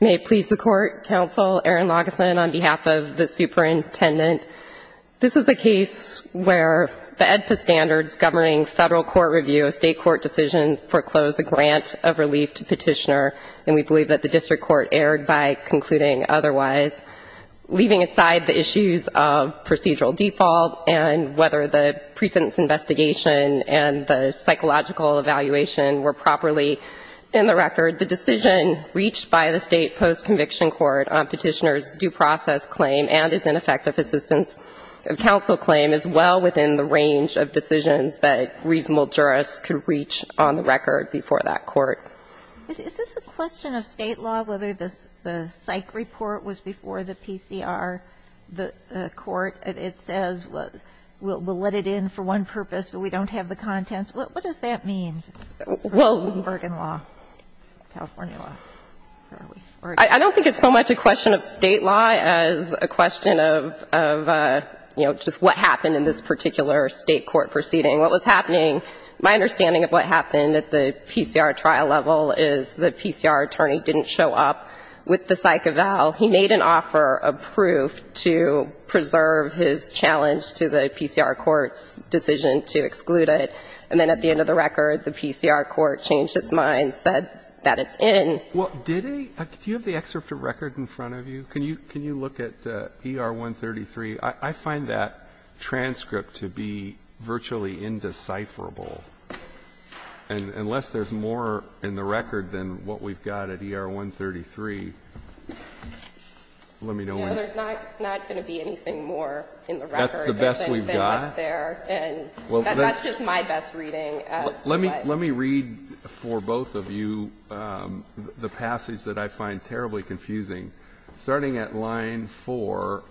May it please the Court, Counsel, Erin Lageson, on behalf of the Superintendent. This is a case where the AEDPA standards governing federal court review, a state court decision, foreclosed a grant of relief to petitioner, and we believe that the district court erred by concluding otherwise. Leaving aside the issues of procedural default and whether the precedence investigation and the psychological evaluation were properly in the record, the decision reached by the state post-conviction court on petitioner's due process claim and his ineffective assistance counsel claim is well within the range of decisions that reasonable jurists could reach on the record before that court. Is this a question of state law, whether the psych report was before the PCR court? It says we'll let it in for one purpose, but we don't have the contents. What does that mean, Bergen law, California law? I don't think it's so much a question of state law as a question of, you know, just what happened in this particular state court proceeding. What was happening, my understanding of what happened at the PCR trial level is the PCR attorney didn't show up with the psych eval. He made an offer of proof to preserve his challenge to the PCR court's decision to exclude it, and then at the end of the record, the PCR court changed its mind, said that it's in. Well, did he? Do you have the excerpt of record in front of you? Can you look at ER-133? I find that transcript to be virtually indecipherable. And unless there's more in the record than what we've got at ER-133, let me know when. There's not going to be anything more in the record. That's the best we've got? That's just my best reading. Let me read for both of you the passage that I find terribly confusing. Starting at line 4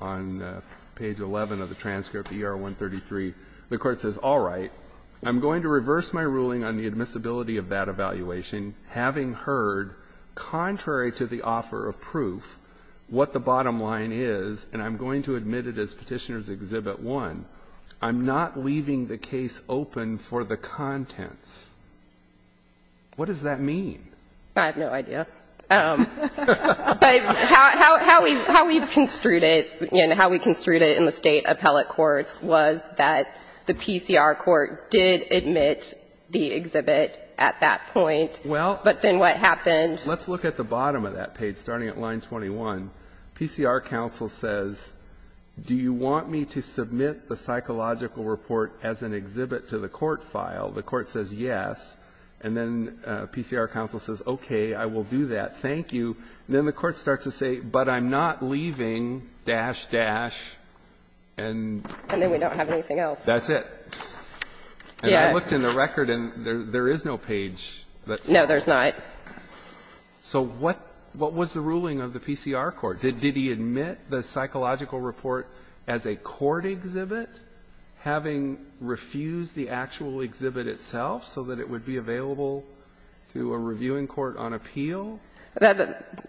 on page 11 of the transcript, ER-133, the Court says, all right, I'm going to reverse my ruling on the admissibility of that evaluation, having heard, contrary to the offer of proof, what the bottom line is, and I'm going to admit it as one, I'm not leaving the case open for the contents. What does that mean? I have no idea. But how we've construed it and how we construed it in the State appellate courts was that the PCR court did admit the exhibit at that point. Well. But then what happened? Let's look at the bottom of that page, starting at line 21. PCR counsel says, do you want me to submit the psychological report as an exhibit to the court file? The court says yes. And then PCR counsel says, okay, I will do that. Thank you. And then the court starts to say, but I'm not leaving, dash, dash, and... And then we don't have anything else. That's it. And I looked in the record, and there is no page that... No, there's not. So what was the ruling of the PCR court? Did he admit the psychological report as a court exhibit, having refused the actual exhibit itself so that it would be available to a reviewing court on appeal?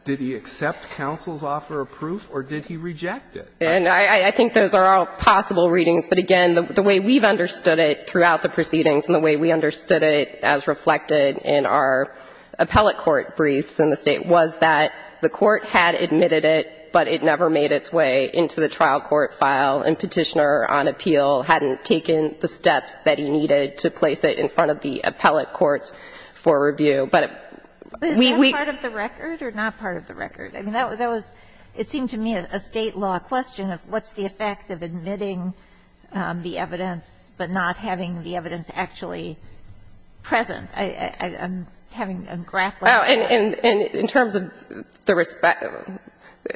Did he accept counsel's offer of proof, or did he reject it? And I think those are all possible readings. But again, the way we've understood it throughout the proceedings and the way we understood it as reflected in our appellate court briefs in the State was that the court had admitted it, but it never made its way into the trial court file, and Petitioner on Appeal hadn't taken the steps that he needed to place it in front of the appellate courts for review. But we... Is that part of the record or not part of the record? I mean, that was... It seemed to me a State law question of what's the effect of admitting the evidence but not having the evidence actually present. I'm having... I'm grappling. Oh, and in terms of the...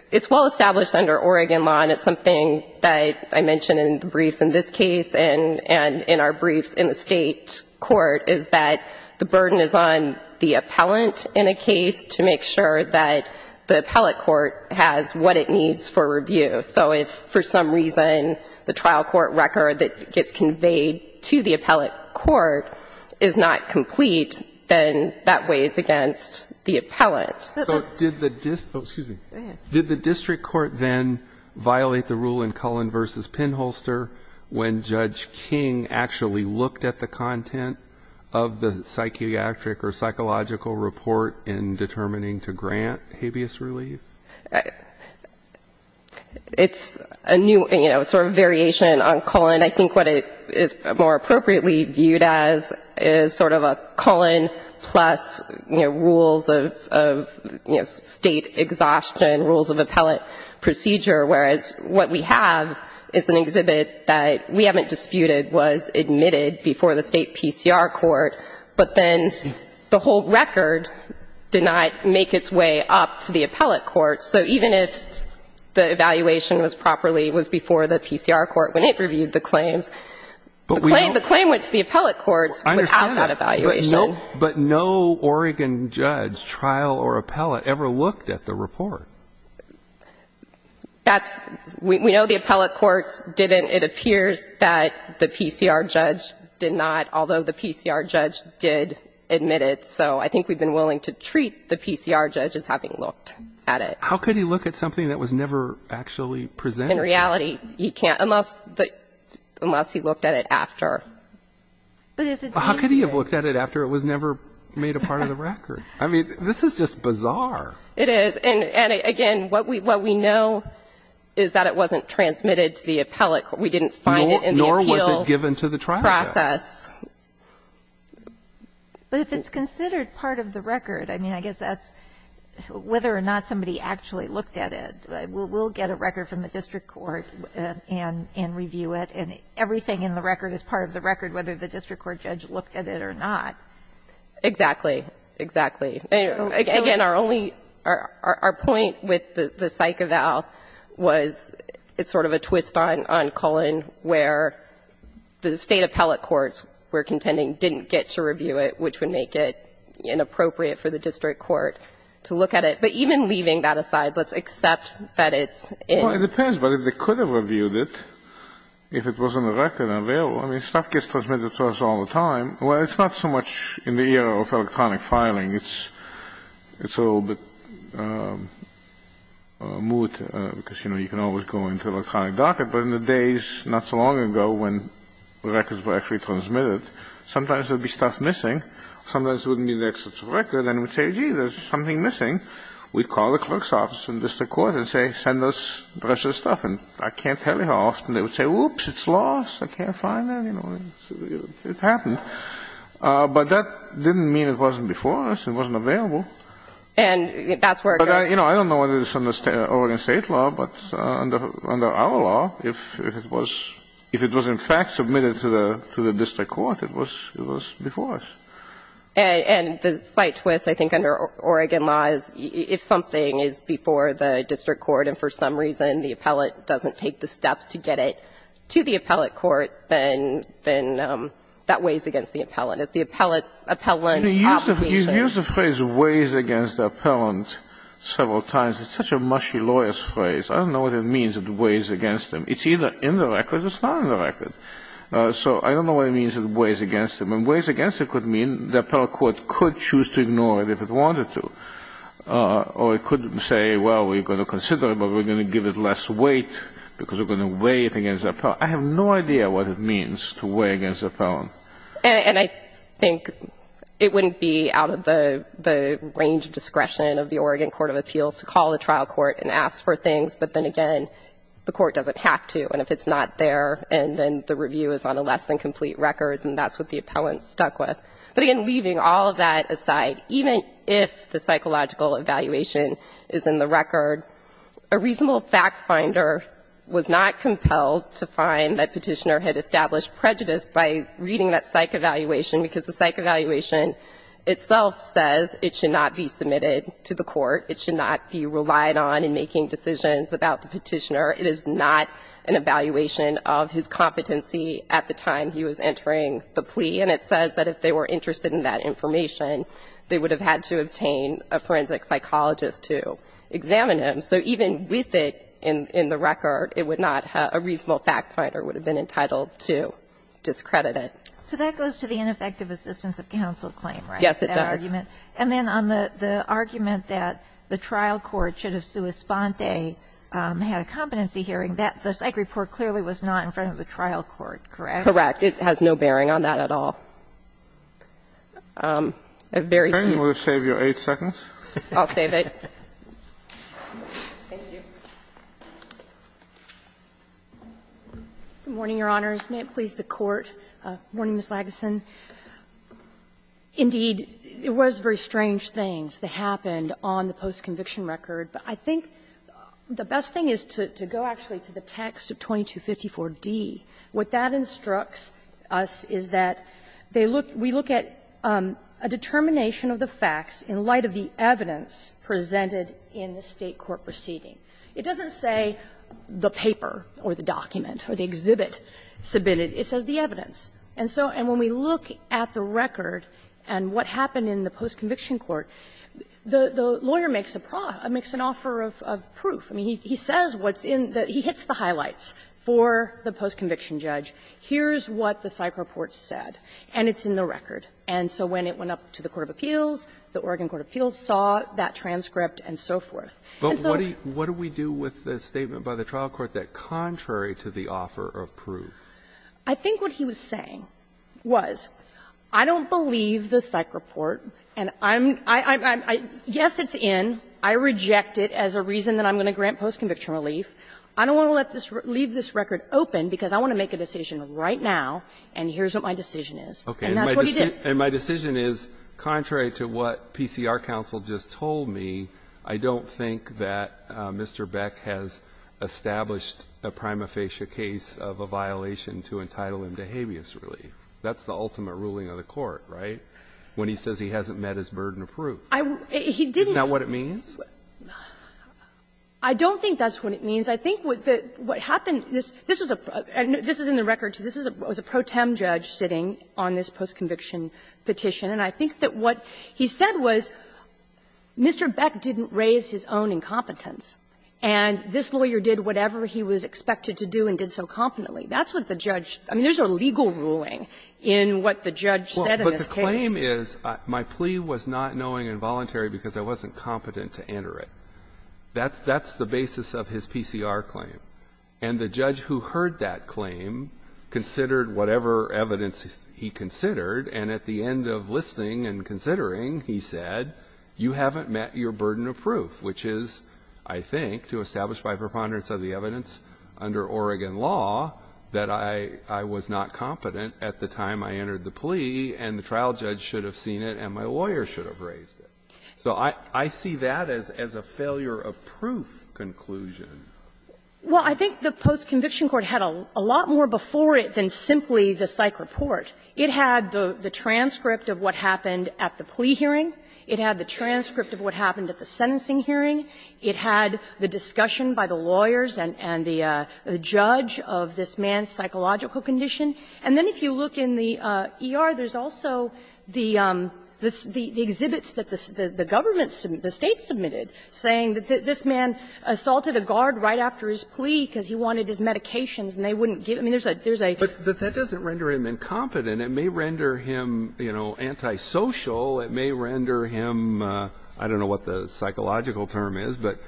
It's well established under Oregon law, and it's something that I mentioned in the briefs in this case and in our briefs in the State court, is that the burden is on the appellant in a case to make sure that the appellate court has what it needs for review. So if for some reason the trial court record that gets conveyed to the appellate court is not complete, then that weighs against the appellant. So did the district... Oh, excuse me. Go ahead. Did the district court then violate the rule in Cullen v. Pinholster when Judge King actually looked at the content of the psychiatric or psychological report in determining to grant habeas relief? It's a new, you know, sort of variation on Cullen. I think what it is more appropriately viewed as is sort of a Cullen plus, you know, rules of, you know, State exhaustion, rules of appellate procedure, whereas what we have is an exhibit that we haven't disputed was admitted before the State PCR court, but then the whole record did not make its way up to the appellate court. So even if the evaluation was properly, was before the PCR court when it reviewed the claims, the claim went to the appellate courts without that evaluation. But no Oregon judge, trial or appellate, ever looked at the report. That's... We know the appellate courts didn't. It appears that the PCR judge did not, although the PCR judge did admit it. So I think we've been willing to treat the PCR judge as having looked at it. How could he look at something that was never actually presented? In reality, he can't, unless he looked at it after. But it's... How could he have looked at it after it was never made a part of the record? I mean, this is just bizarre. It is. And, again, what we know is that it wasn't transmitted to the appellate court. We didn't find it in the appeal process. Nor was it given to the trial judge. But if it's considered part of the record, I mean, I guess that's whether or not somebody actually looked at it. We'll get a record from the district court and review it, and everything in the record is part of the record, whether the district court judge looked at it or not. Exactly. Exactly. Again, our only... Our point with the psych eval was it's sort of a twist on Cullen where the state appellate courts were contending didn't get to review it, which would make it inappropriate for the district court to look at it. But even leaving that aside, let's accept that it's... Well, it depends. But if they could have reviewed it, if it was in the record and available. I mean, stuff gets transmitted to us all the time. Well, it's not so much in the era of electronic filing. It's a little bit moot, because, you know, you can always go into electronic docket. But in the days not so long ago when records were actually transmitted, sometimes there would be stuff missing. Sometimes there wouldn't be the access to the record, and we'd say, gee, there's something missing. We'd call the clerk's office and district court and say, send us the rest of the stuff. And I can't tell you how often they would say, oops, it's lost. I can't find it. You know, it happened. But that didn't mean it wasn't before us. It wasn't available. And that's where it goes. But, you know, I don't know whether it's under Oregon State law, but under our law, if it was in fact submitted to the district court, it was before us. And the slight twist, I think, under Oregon law is if something is before the district court and for some reason the appellate doesn't take the steps to get it to the appellate court, then that weighs against the appellant. It's the appellant's obligation. You've used the phrase weighs against the appellant several times. It's such a mushy lawyer's phrase. I don't know what it means, it weighs against them. It's either in the record or it's not in the record. So I don't know what it means it weighs against them. And weighs against it could mean the appellate court could choose to ignore it if it wanted to. Or it could say, well, we're going to consider it, but we're going to give it less weight because we're going to weigh it against the appellant. So I have no idea what it means to weigh against the appellant. And I think it wouldn't be out of the range of discretion of the Oregon court of appeals to call the trial court and ask for things. But then again, the court doesn't have to. And if it's not there and then the review is on a less than complete record, then that's what the appellant's stuck with. But again, leaving all of that aside, even if the psychological evaluation is in the record, a reasonable fact finder was not compelled to find that Petitioner had established prejudice by reading that psych evaluation, because the psych evaluation itself says it should not be submitted to the court. It should not be relied on in making decisions about the Petitioner. It is not an evaluation of his competency at the time he was entering the plea. And it says that if they were interested in that information, they would have had to obtain a forensic psychologist to examine him. So even with it in the record, it would not have been a reasonable fact finder would have been entitled to discredit it. So that goes to the ineffective assistance of counsel claim, right? Yes, it does. And then on the argument that the trial court should have sua sponte had a competency hearing, the psych report clearly was not in front of the trial court, correct? It has no bearing on that at all. I'm very confused. Sotomayor, we'll save you 8 seconds. I'll save it. Thank you. Good morning, Your Honors. May it please the Court. Good morning, Ms. Lageson. Indeed, it was very strange things that happened on the post-conviction record, but I think the best thing is to go actually to the text of 2254d. What that instructs us is that they look we look at a determination of the facts in light of the evidence presented in the State court proceeding. It doesn't say the paper or the document or the exhibit submitted. It says the evidence. And so when we look at the record and what happened in the post-conviction court, the lawyer makes an offer of proof. I mean, he says what's in the he hits the highlights for the post-conviction judge. Here's what the psych report said, and it's in the record. And so when it went up to the court of appeals, the Oregon court of appeals saw that transcript and so forth. And so what do we do with the statement by the trial court that contrary to the offer of proof? I think what he was saying was, I don't believe the psych report, and I'm, I'm, I'm, I don't want to let this leave this record open, because I want to make a decision right now, and here's what my decision is. And that's what he did. And my decision is, contrary to what PCR counsel just told me, I don't think that Mr. Beck has established a prima facie case of a violation to entitle him to habeas relief. That's the ultimate ruling of the court, right, when he says he hasn't met his burden of proof. I, he didn't. Isn't that what it means? I don't think that's what it means. I think what, what happened, this, this was a, this is in the record, too. This is a, was a pro tem judge sitting on this post-conviction petition. And I think that what he said was, Mr. Beck didn't raise his own incompetence, and this lawyer did whatever he was expected to do and did so competently. That's what the judge, I mean, there's a legal ruling in what the judge said in this case. The claim is, my plea was not knowing involuntary because I wasn't competent to enter it. That's, that's the basis of his PCR claim. And the judge who heard that claim considered whatever evidence he considered, and at the end of listening and considering, he said, you haven't met your burden of proof, which is, I think, to establish by preponderance of the evidence under Oregon law, that I, I was not competent at the time I entered the plea, and the trial judge should have seen it, and my lawyer should have raised it. So I, I see that as, as a failure of proof conclusion. Well, I think the post-conviction court had a lot more before it than simply the psych report. It had the, the transcript of what happened at the plea hearing. It had the transcript of what happened at the sentencing hearing. It had the discussion by the lawyers and, and the, the judge of this man's psychological condition. And then if you look in the ER, there's also the, the exhibits that the, the government submitted, the State submitted, saying that this man assaulted a guard right after his plea because he wanted his medications, and they wouldn't give him, there's a, there's a. But that doesn't render him incompetent. It may render him, you know, antisocial. It may render him, I don't know what the psychological term is, but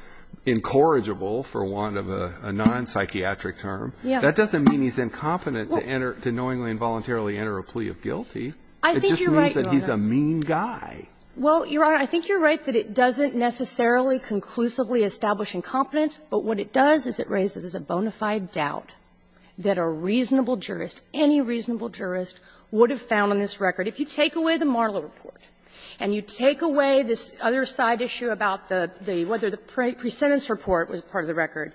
incorrigible, for want of a non-psychiatric term. Yeah. That doesn't mean he's incompetent to enter, to knowingly and voluntarily enter a plea of guilty. It just means that he's a mean guy. Well, Your Honor, I think you're right that it doesn't necessarily conclusively establish incompetence, but what it does is it raises a bona fide doubt that a reasonable jurist, any reasonable jurist, would have found on this record. If you take away the Marlowe report and you take away this other side issue about the, the, whether the pre-sentence report was part of the record,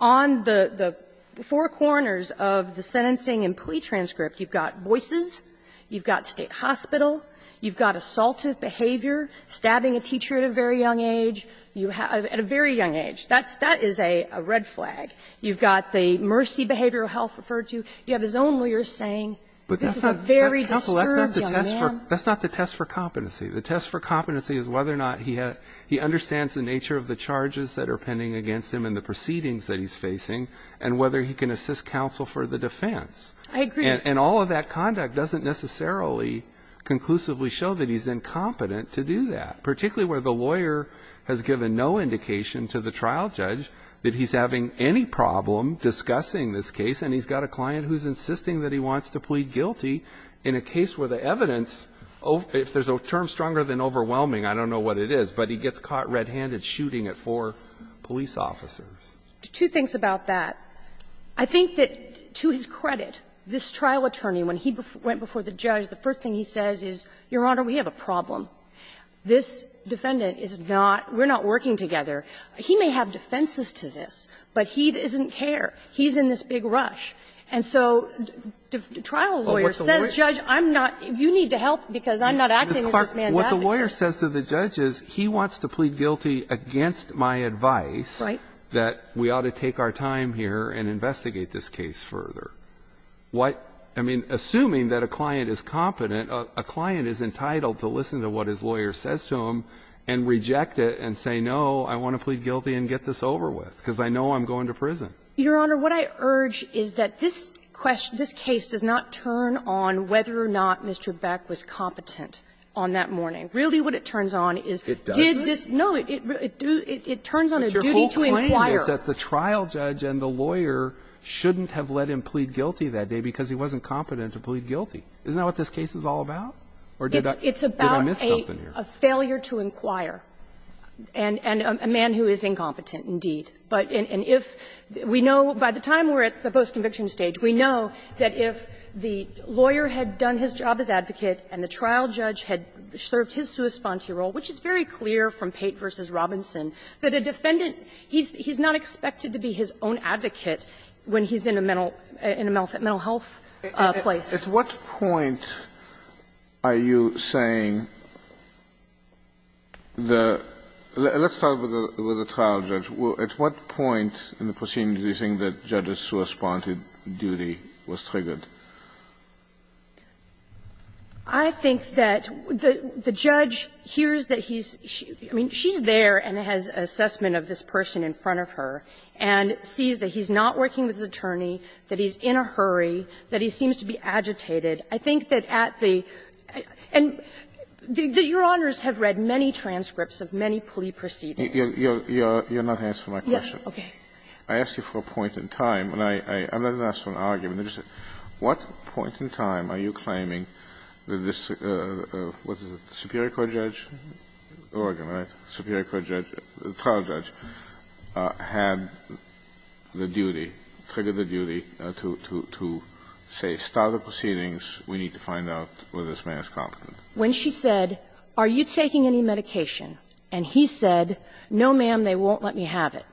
on the, the four corners of the sentencing and plea transcript, you've got voices, you've got State hospital, you've got assaultive behavior, stabbing a teacher at a very young age, you have, at a very young age. That's, that is a, a red flag. You've got the mercy behavioral health referred to. You have his own lawyers saying, this is a very disturbed young man. But that's not, counsel, that's not the test for competency. The test for competency is whether or not he has, he understands the nature of the charges that are pending against him and the proceedings that he's facing, and whether he can assist counsel for the defense. And all of that conduct doesn't necessarily conclusively show that he's incompetent to do that, particularly where the lawyer has given no indication to the trial judge that he's having any problem discussing this case, and he's got a client who's insisting that he wants to plead guilty in a case where the evidence, if there's a term stronger than overwhelming, I don't know what it is, but he gets caught red-handed shooting at four police officers. Two things about that. I think that, to his credit, this trial attorney, when he went before the judge, the first thing he says is, Your Honor, we have a problem. This defendant is not, we're not working together. He may have defenses to this, but he doesn't care. He's in this big rush. And so the trial lawyer says, Judge, I'm not, you need to help because I'm not acting as this man's advocate. And what the lawyer says to the judge is, he wants to plead guilty against my advice that we ought to take our time here and investigate this case further. What, I mean, assuming that a client is competent, a client is entitled to listen to what his lawyer says to him and reject it and say, no, I want to plead guilty and get this over with because I know I'm going to prison. Your Honor, what I urge is that this case does not turn on whether or not Mr. Beck was competent on that morning. Really, what it turns on is, did this no, it turns on a duty to inquire. But your whole claim is that the trial judge and the lawyer shouldn't have let him plead guilty that day because he wasn't competent to plead guilty. Isn't that what this case is all about? Or did I miss something here? It's about a failure to inquire and a man who is incompetent, indeed. But if we know, by the time we're at the post-conviction stage, we know that if the trial judge had served his suespanti role, which is very clear from Pate v. Robinson, that a defendant, he's not expected to be his own advocate when he's in a mental health place. Kennedy, at what point are you saying the – let's start with the trial judge. At what point in the proceedings do you think that judge's suespanti duty was triggered? I think that the judge hears that he's – I mean, she's there and has an assessment of this person in front of her and sees that he's not working with his attorney, that he's in a hurry, that he seems to be agitated. I think that at the – and your Honors have read many transcripts of many plea proceedings. You're not answering my question. Yes, okay. I asked you for a point in time, and I'm not going to ask for an argument. I just said, what point in time are you claiming that this – what is it, the superior court judge, Oregon, right, superior court judge, the trial judge, had the duty, triggered the duty to say, start the proceedings, we need to find out whether this man is competent. When she said, are you taking any medication, and he said, no, ma'am, they won't let me have it.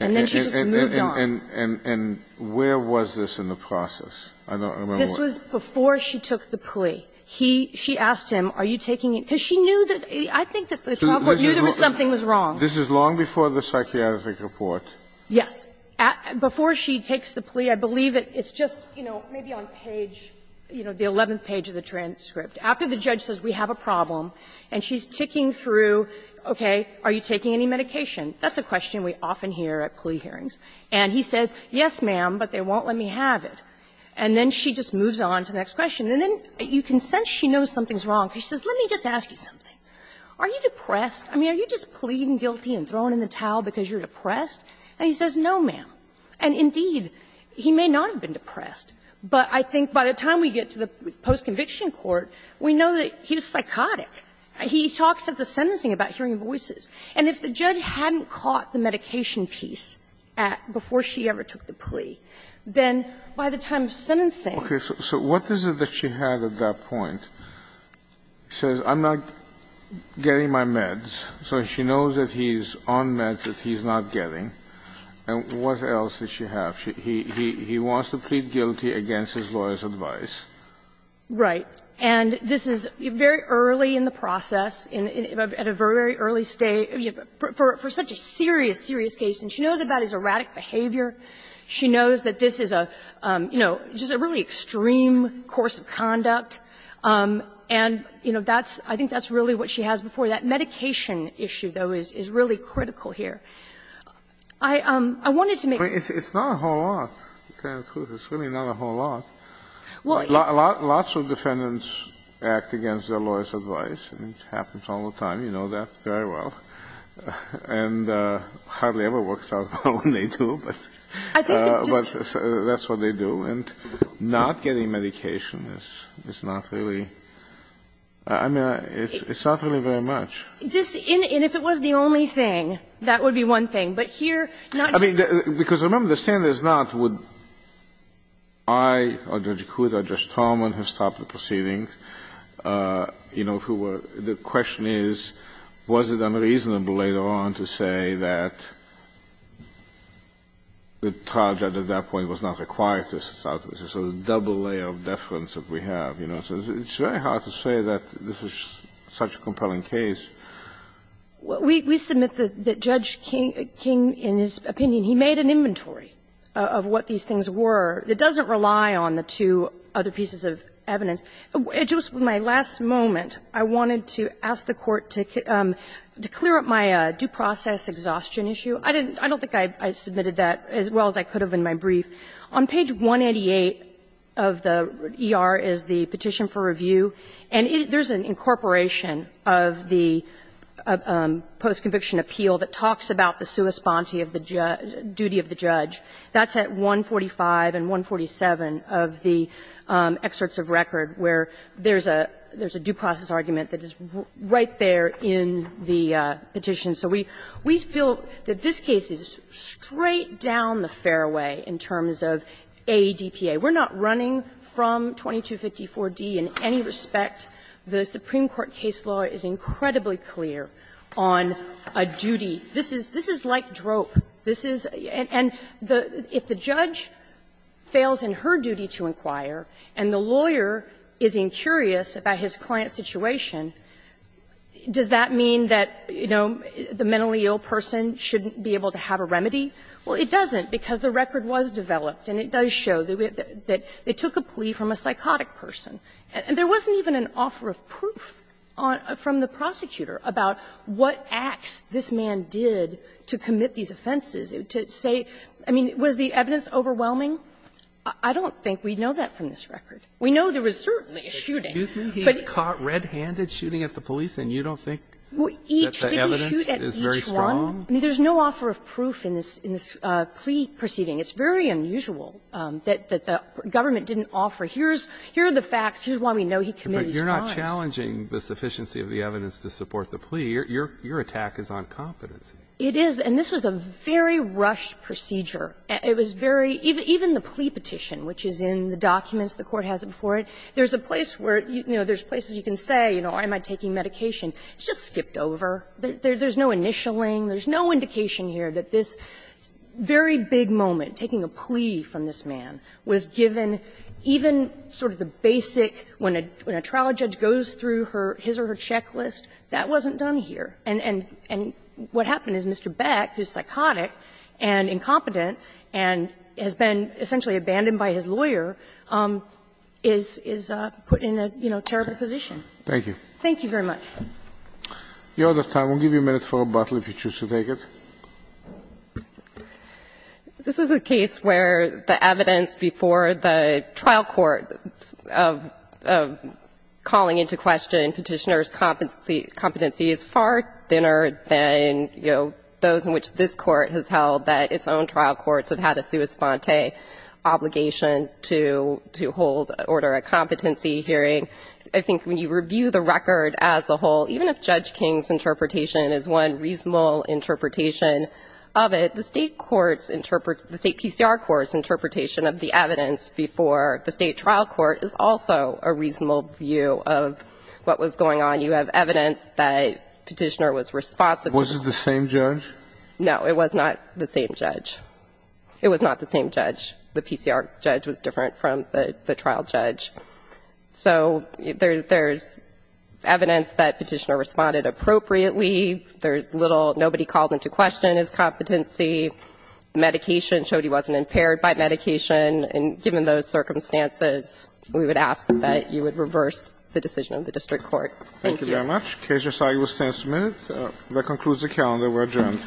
And then she just moved on. And where was this in the process? I don't remember. This was before she took the plea. He – she asked him, are you taking it, because she knew that – I think that the trial court knew there was something was wrong. This is long before the psychiatric report. Yes. Before she takes the plea, I believe it's just, you know, maybe on page, you know, the 11th page of the transcript. After the judge says, we have a problem, and she's ticking through, okay, are you taking any medication? That's a question we often hear at plea hearings. And he says, yes, ma'am, but they won't let me have it. And then she just moves on to the next question. And then you can sense she knows something's wrong, because she says, let me just ask you something. Are you depressed? I mean, are you just pleading guilty and throwing in the towel because you're depressed? And he says, no, ma'am. And indeed, he may not have been depressed, but I think by the time we get to the post-conviction court, we know that he was psychotic. He talks at the sentencing about hearing voices. And if the judge hadn't caught the medication piece before she ever took the plea, then by the time of sentencing. Kennedy, so what is it that she had at that point? She says, I'm not getting my meds, so she knows that he's on meds that he's not getting. And what else does she have? He wants to plead guilty against his lawyer's advice. Right. And this is very early in the process, at a very early stage, for such a serious, serious case. And she knows that that is erratic behavior. She knows that this is a, you know, just a really extreme course of conduct. And, you know, that's – I think that's really what she has before that. Medication issue, though, is really critical here. I wanted to make – It's not a whole lot, to tell you the truth. It's really not a whole lot. Lots of defendants act against their lawyer's advice, and it happens all the time. You know that very well. And it hardly ever works out when they do, but that's what they do. And not getting medication is not really – I mean, it's not really very much. This – and if it was the only thing, that would be one thing. But here, not just the – I or Judge Coote or Judge Tallman have stopped the proceedings, you know, who were – the question is, was it unreasonable later on to say that the charge at that point was not required to stop? It's a sort of double layer of deference that we have, you know. So it's very hard to say that this is such a compelling case. We submit that Judge King, in his opinion, he made an inventory of what these things were that doesn't rely on the two other pieces of evidence. Just my last moment, I wanted to ask the Court to clear up my due process exhaustion issue. I didn't – I don't think I submitted that as well as I could have in my brief. On page 188 of the ER is the petition for review, and there's an incorporation of the post-conviction appeal that talks about the sui sponte of the duty of the judge. That's at 145 and 147 of the excerpts of record where there's a due process argument that is right there in the petition. So we feel that this case is straight down the fairway in terms of AEDPA. We're not running from 2254d in any respect. The Supreme Court case law is incredibly clear on a duty. This is like drope. This is – and if the judge fails in her duty to inquire and the lawyer is incurious about his client's situation, does that mean that, you know, the mentally ill person shouldn't be able to have a remedy? Well, it doesn't, because the record was developed, and it does show that they took a plea from a psychotic person. And there wasn't even an offer of proof on – from the prosecutor about what acts this man did to commit these offenses, to say – I mean, was the evidence overwhelming? I don't think we know that from this record. We know there was certainly a shooting. But he was caught red-handed shooting at the police, and you don't think that the Well, each – did he shoot at each one? I mean, there's no offer of proof in this – in this plea proceeding. It's very unusual that the government didn't offer, here's – here are the facts, here's why we know he committed these crimes. But you're not challenging the sufficiency of the evidence to support the plea. Your – your attack is on competency. It is, and this was a very rushed procedure. It was very – even the plea petition, which is in the documents, the Court has it before it, there's a place where, you know, there's places you can say, you know, am I taking medication? It's just skipped over. There's no initialing. There's no indication here that this very big moment, taking a plea from this man, was given even sort of the basic – when a trial judge goes through his or her checklist, that wasn't done here. And – and what happened is Mr. Beck, who's psychotic and incompetent and has been essentially abandoned by his lawyer, is – is put in a, you know, terrible position. Thank you. Thank you very much. The order of time. We'll give you a minute for rebuttal if you choose to take it. This is a case where the evidence before the trial court of – of calling into question petitioner's competency is far thinner than, you know, those in which this Court has held that its own trial courts have had a sua sponte obligation to – to hold order of competency hearing. I think when you review the record as a whole, even if Judge King's interpretation is one reasonable interpretation of it, the State courts – the State PCR courts interpretation of the evidence before the State trial court is also a reasonable view of what was going on. You have evidence that petitioner was responsible. Was it the same judge? No, it was not the same judge. It was not the same judge. The PCR judge was different from the – the trial judge. So there – there's evidence that petitioner responded appropriately. There's little – nobody called into question his competency. Medication showed he wasn't impaired by medication. And given those circumstances, we would ask that you would reverse the decision of the district court. Thank you. Thank you very much. The case is signed. We'll stand a minute. That concludes the calendar. We're adjourned.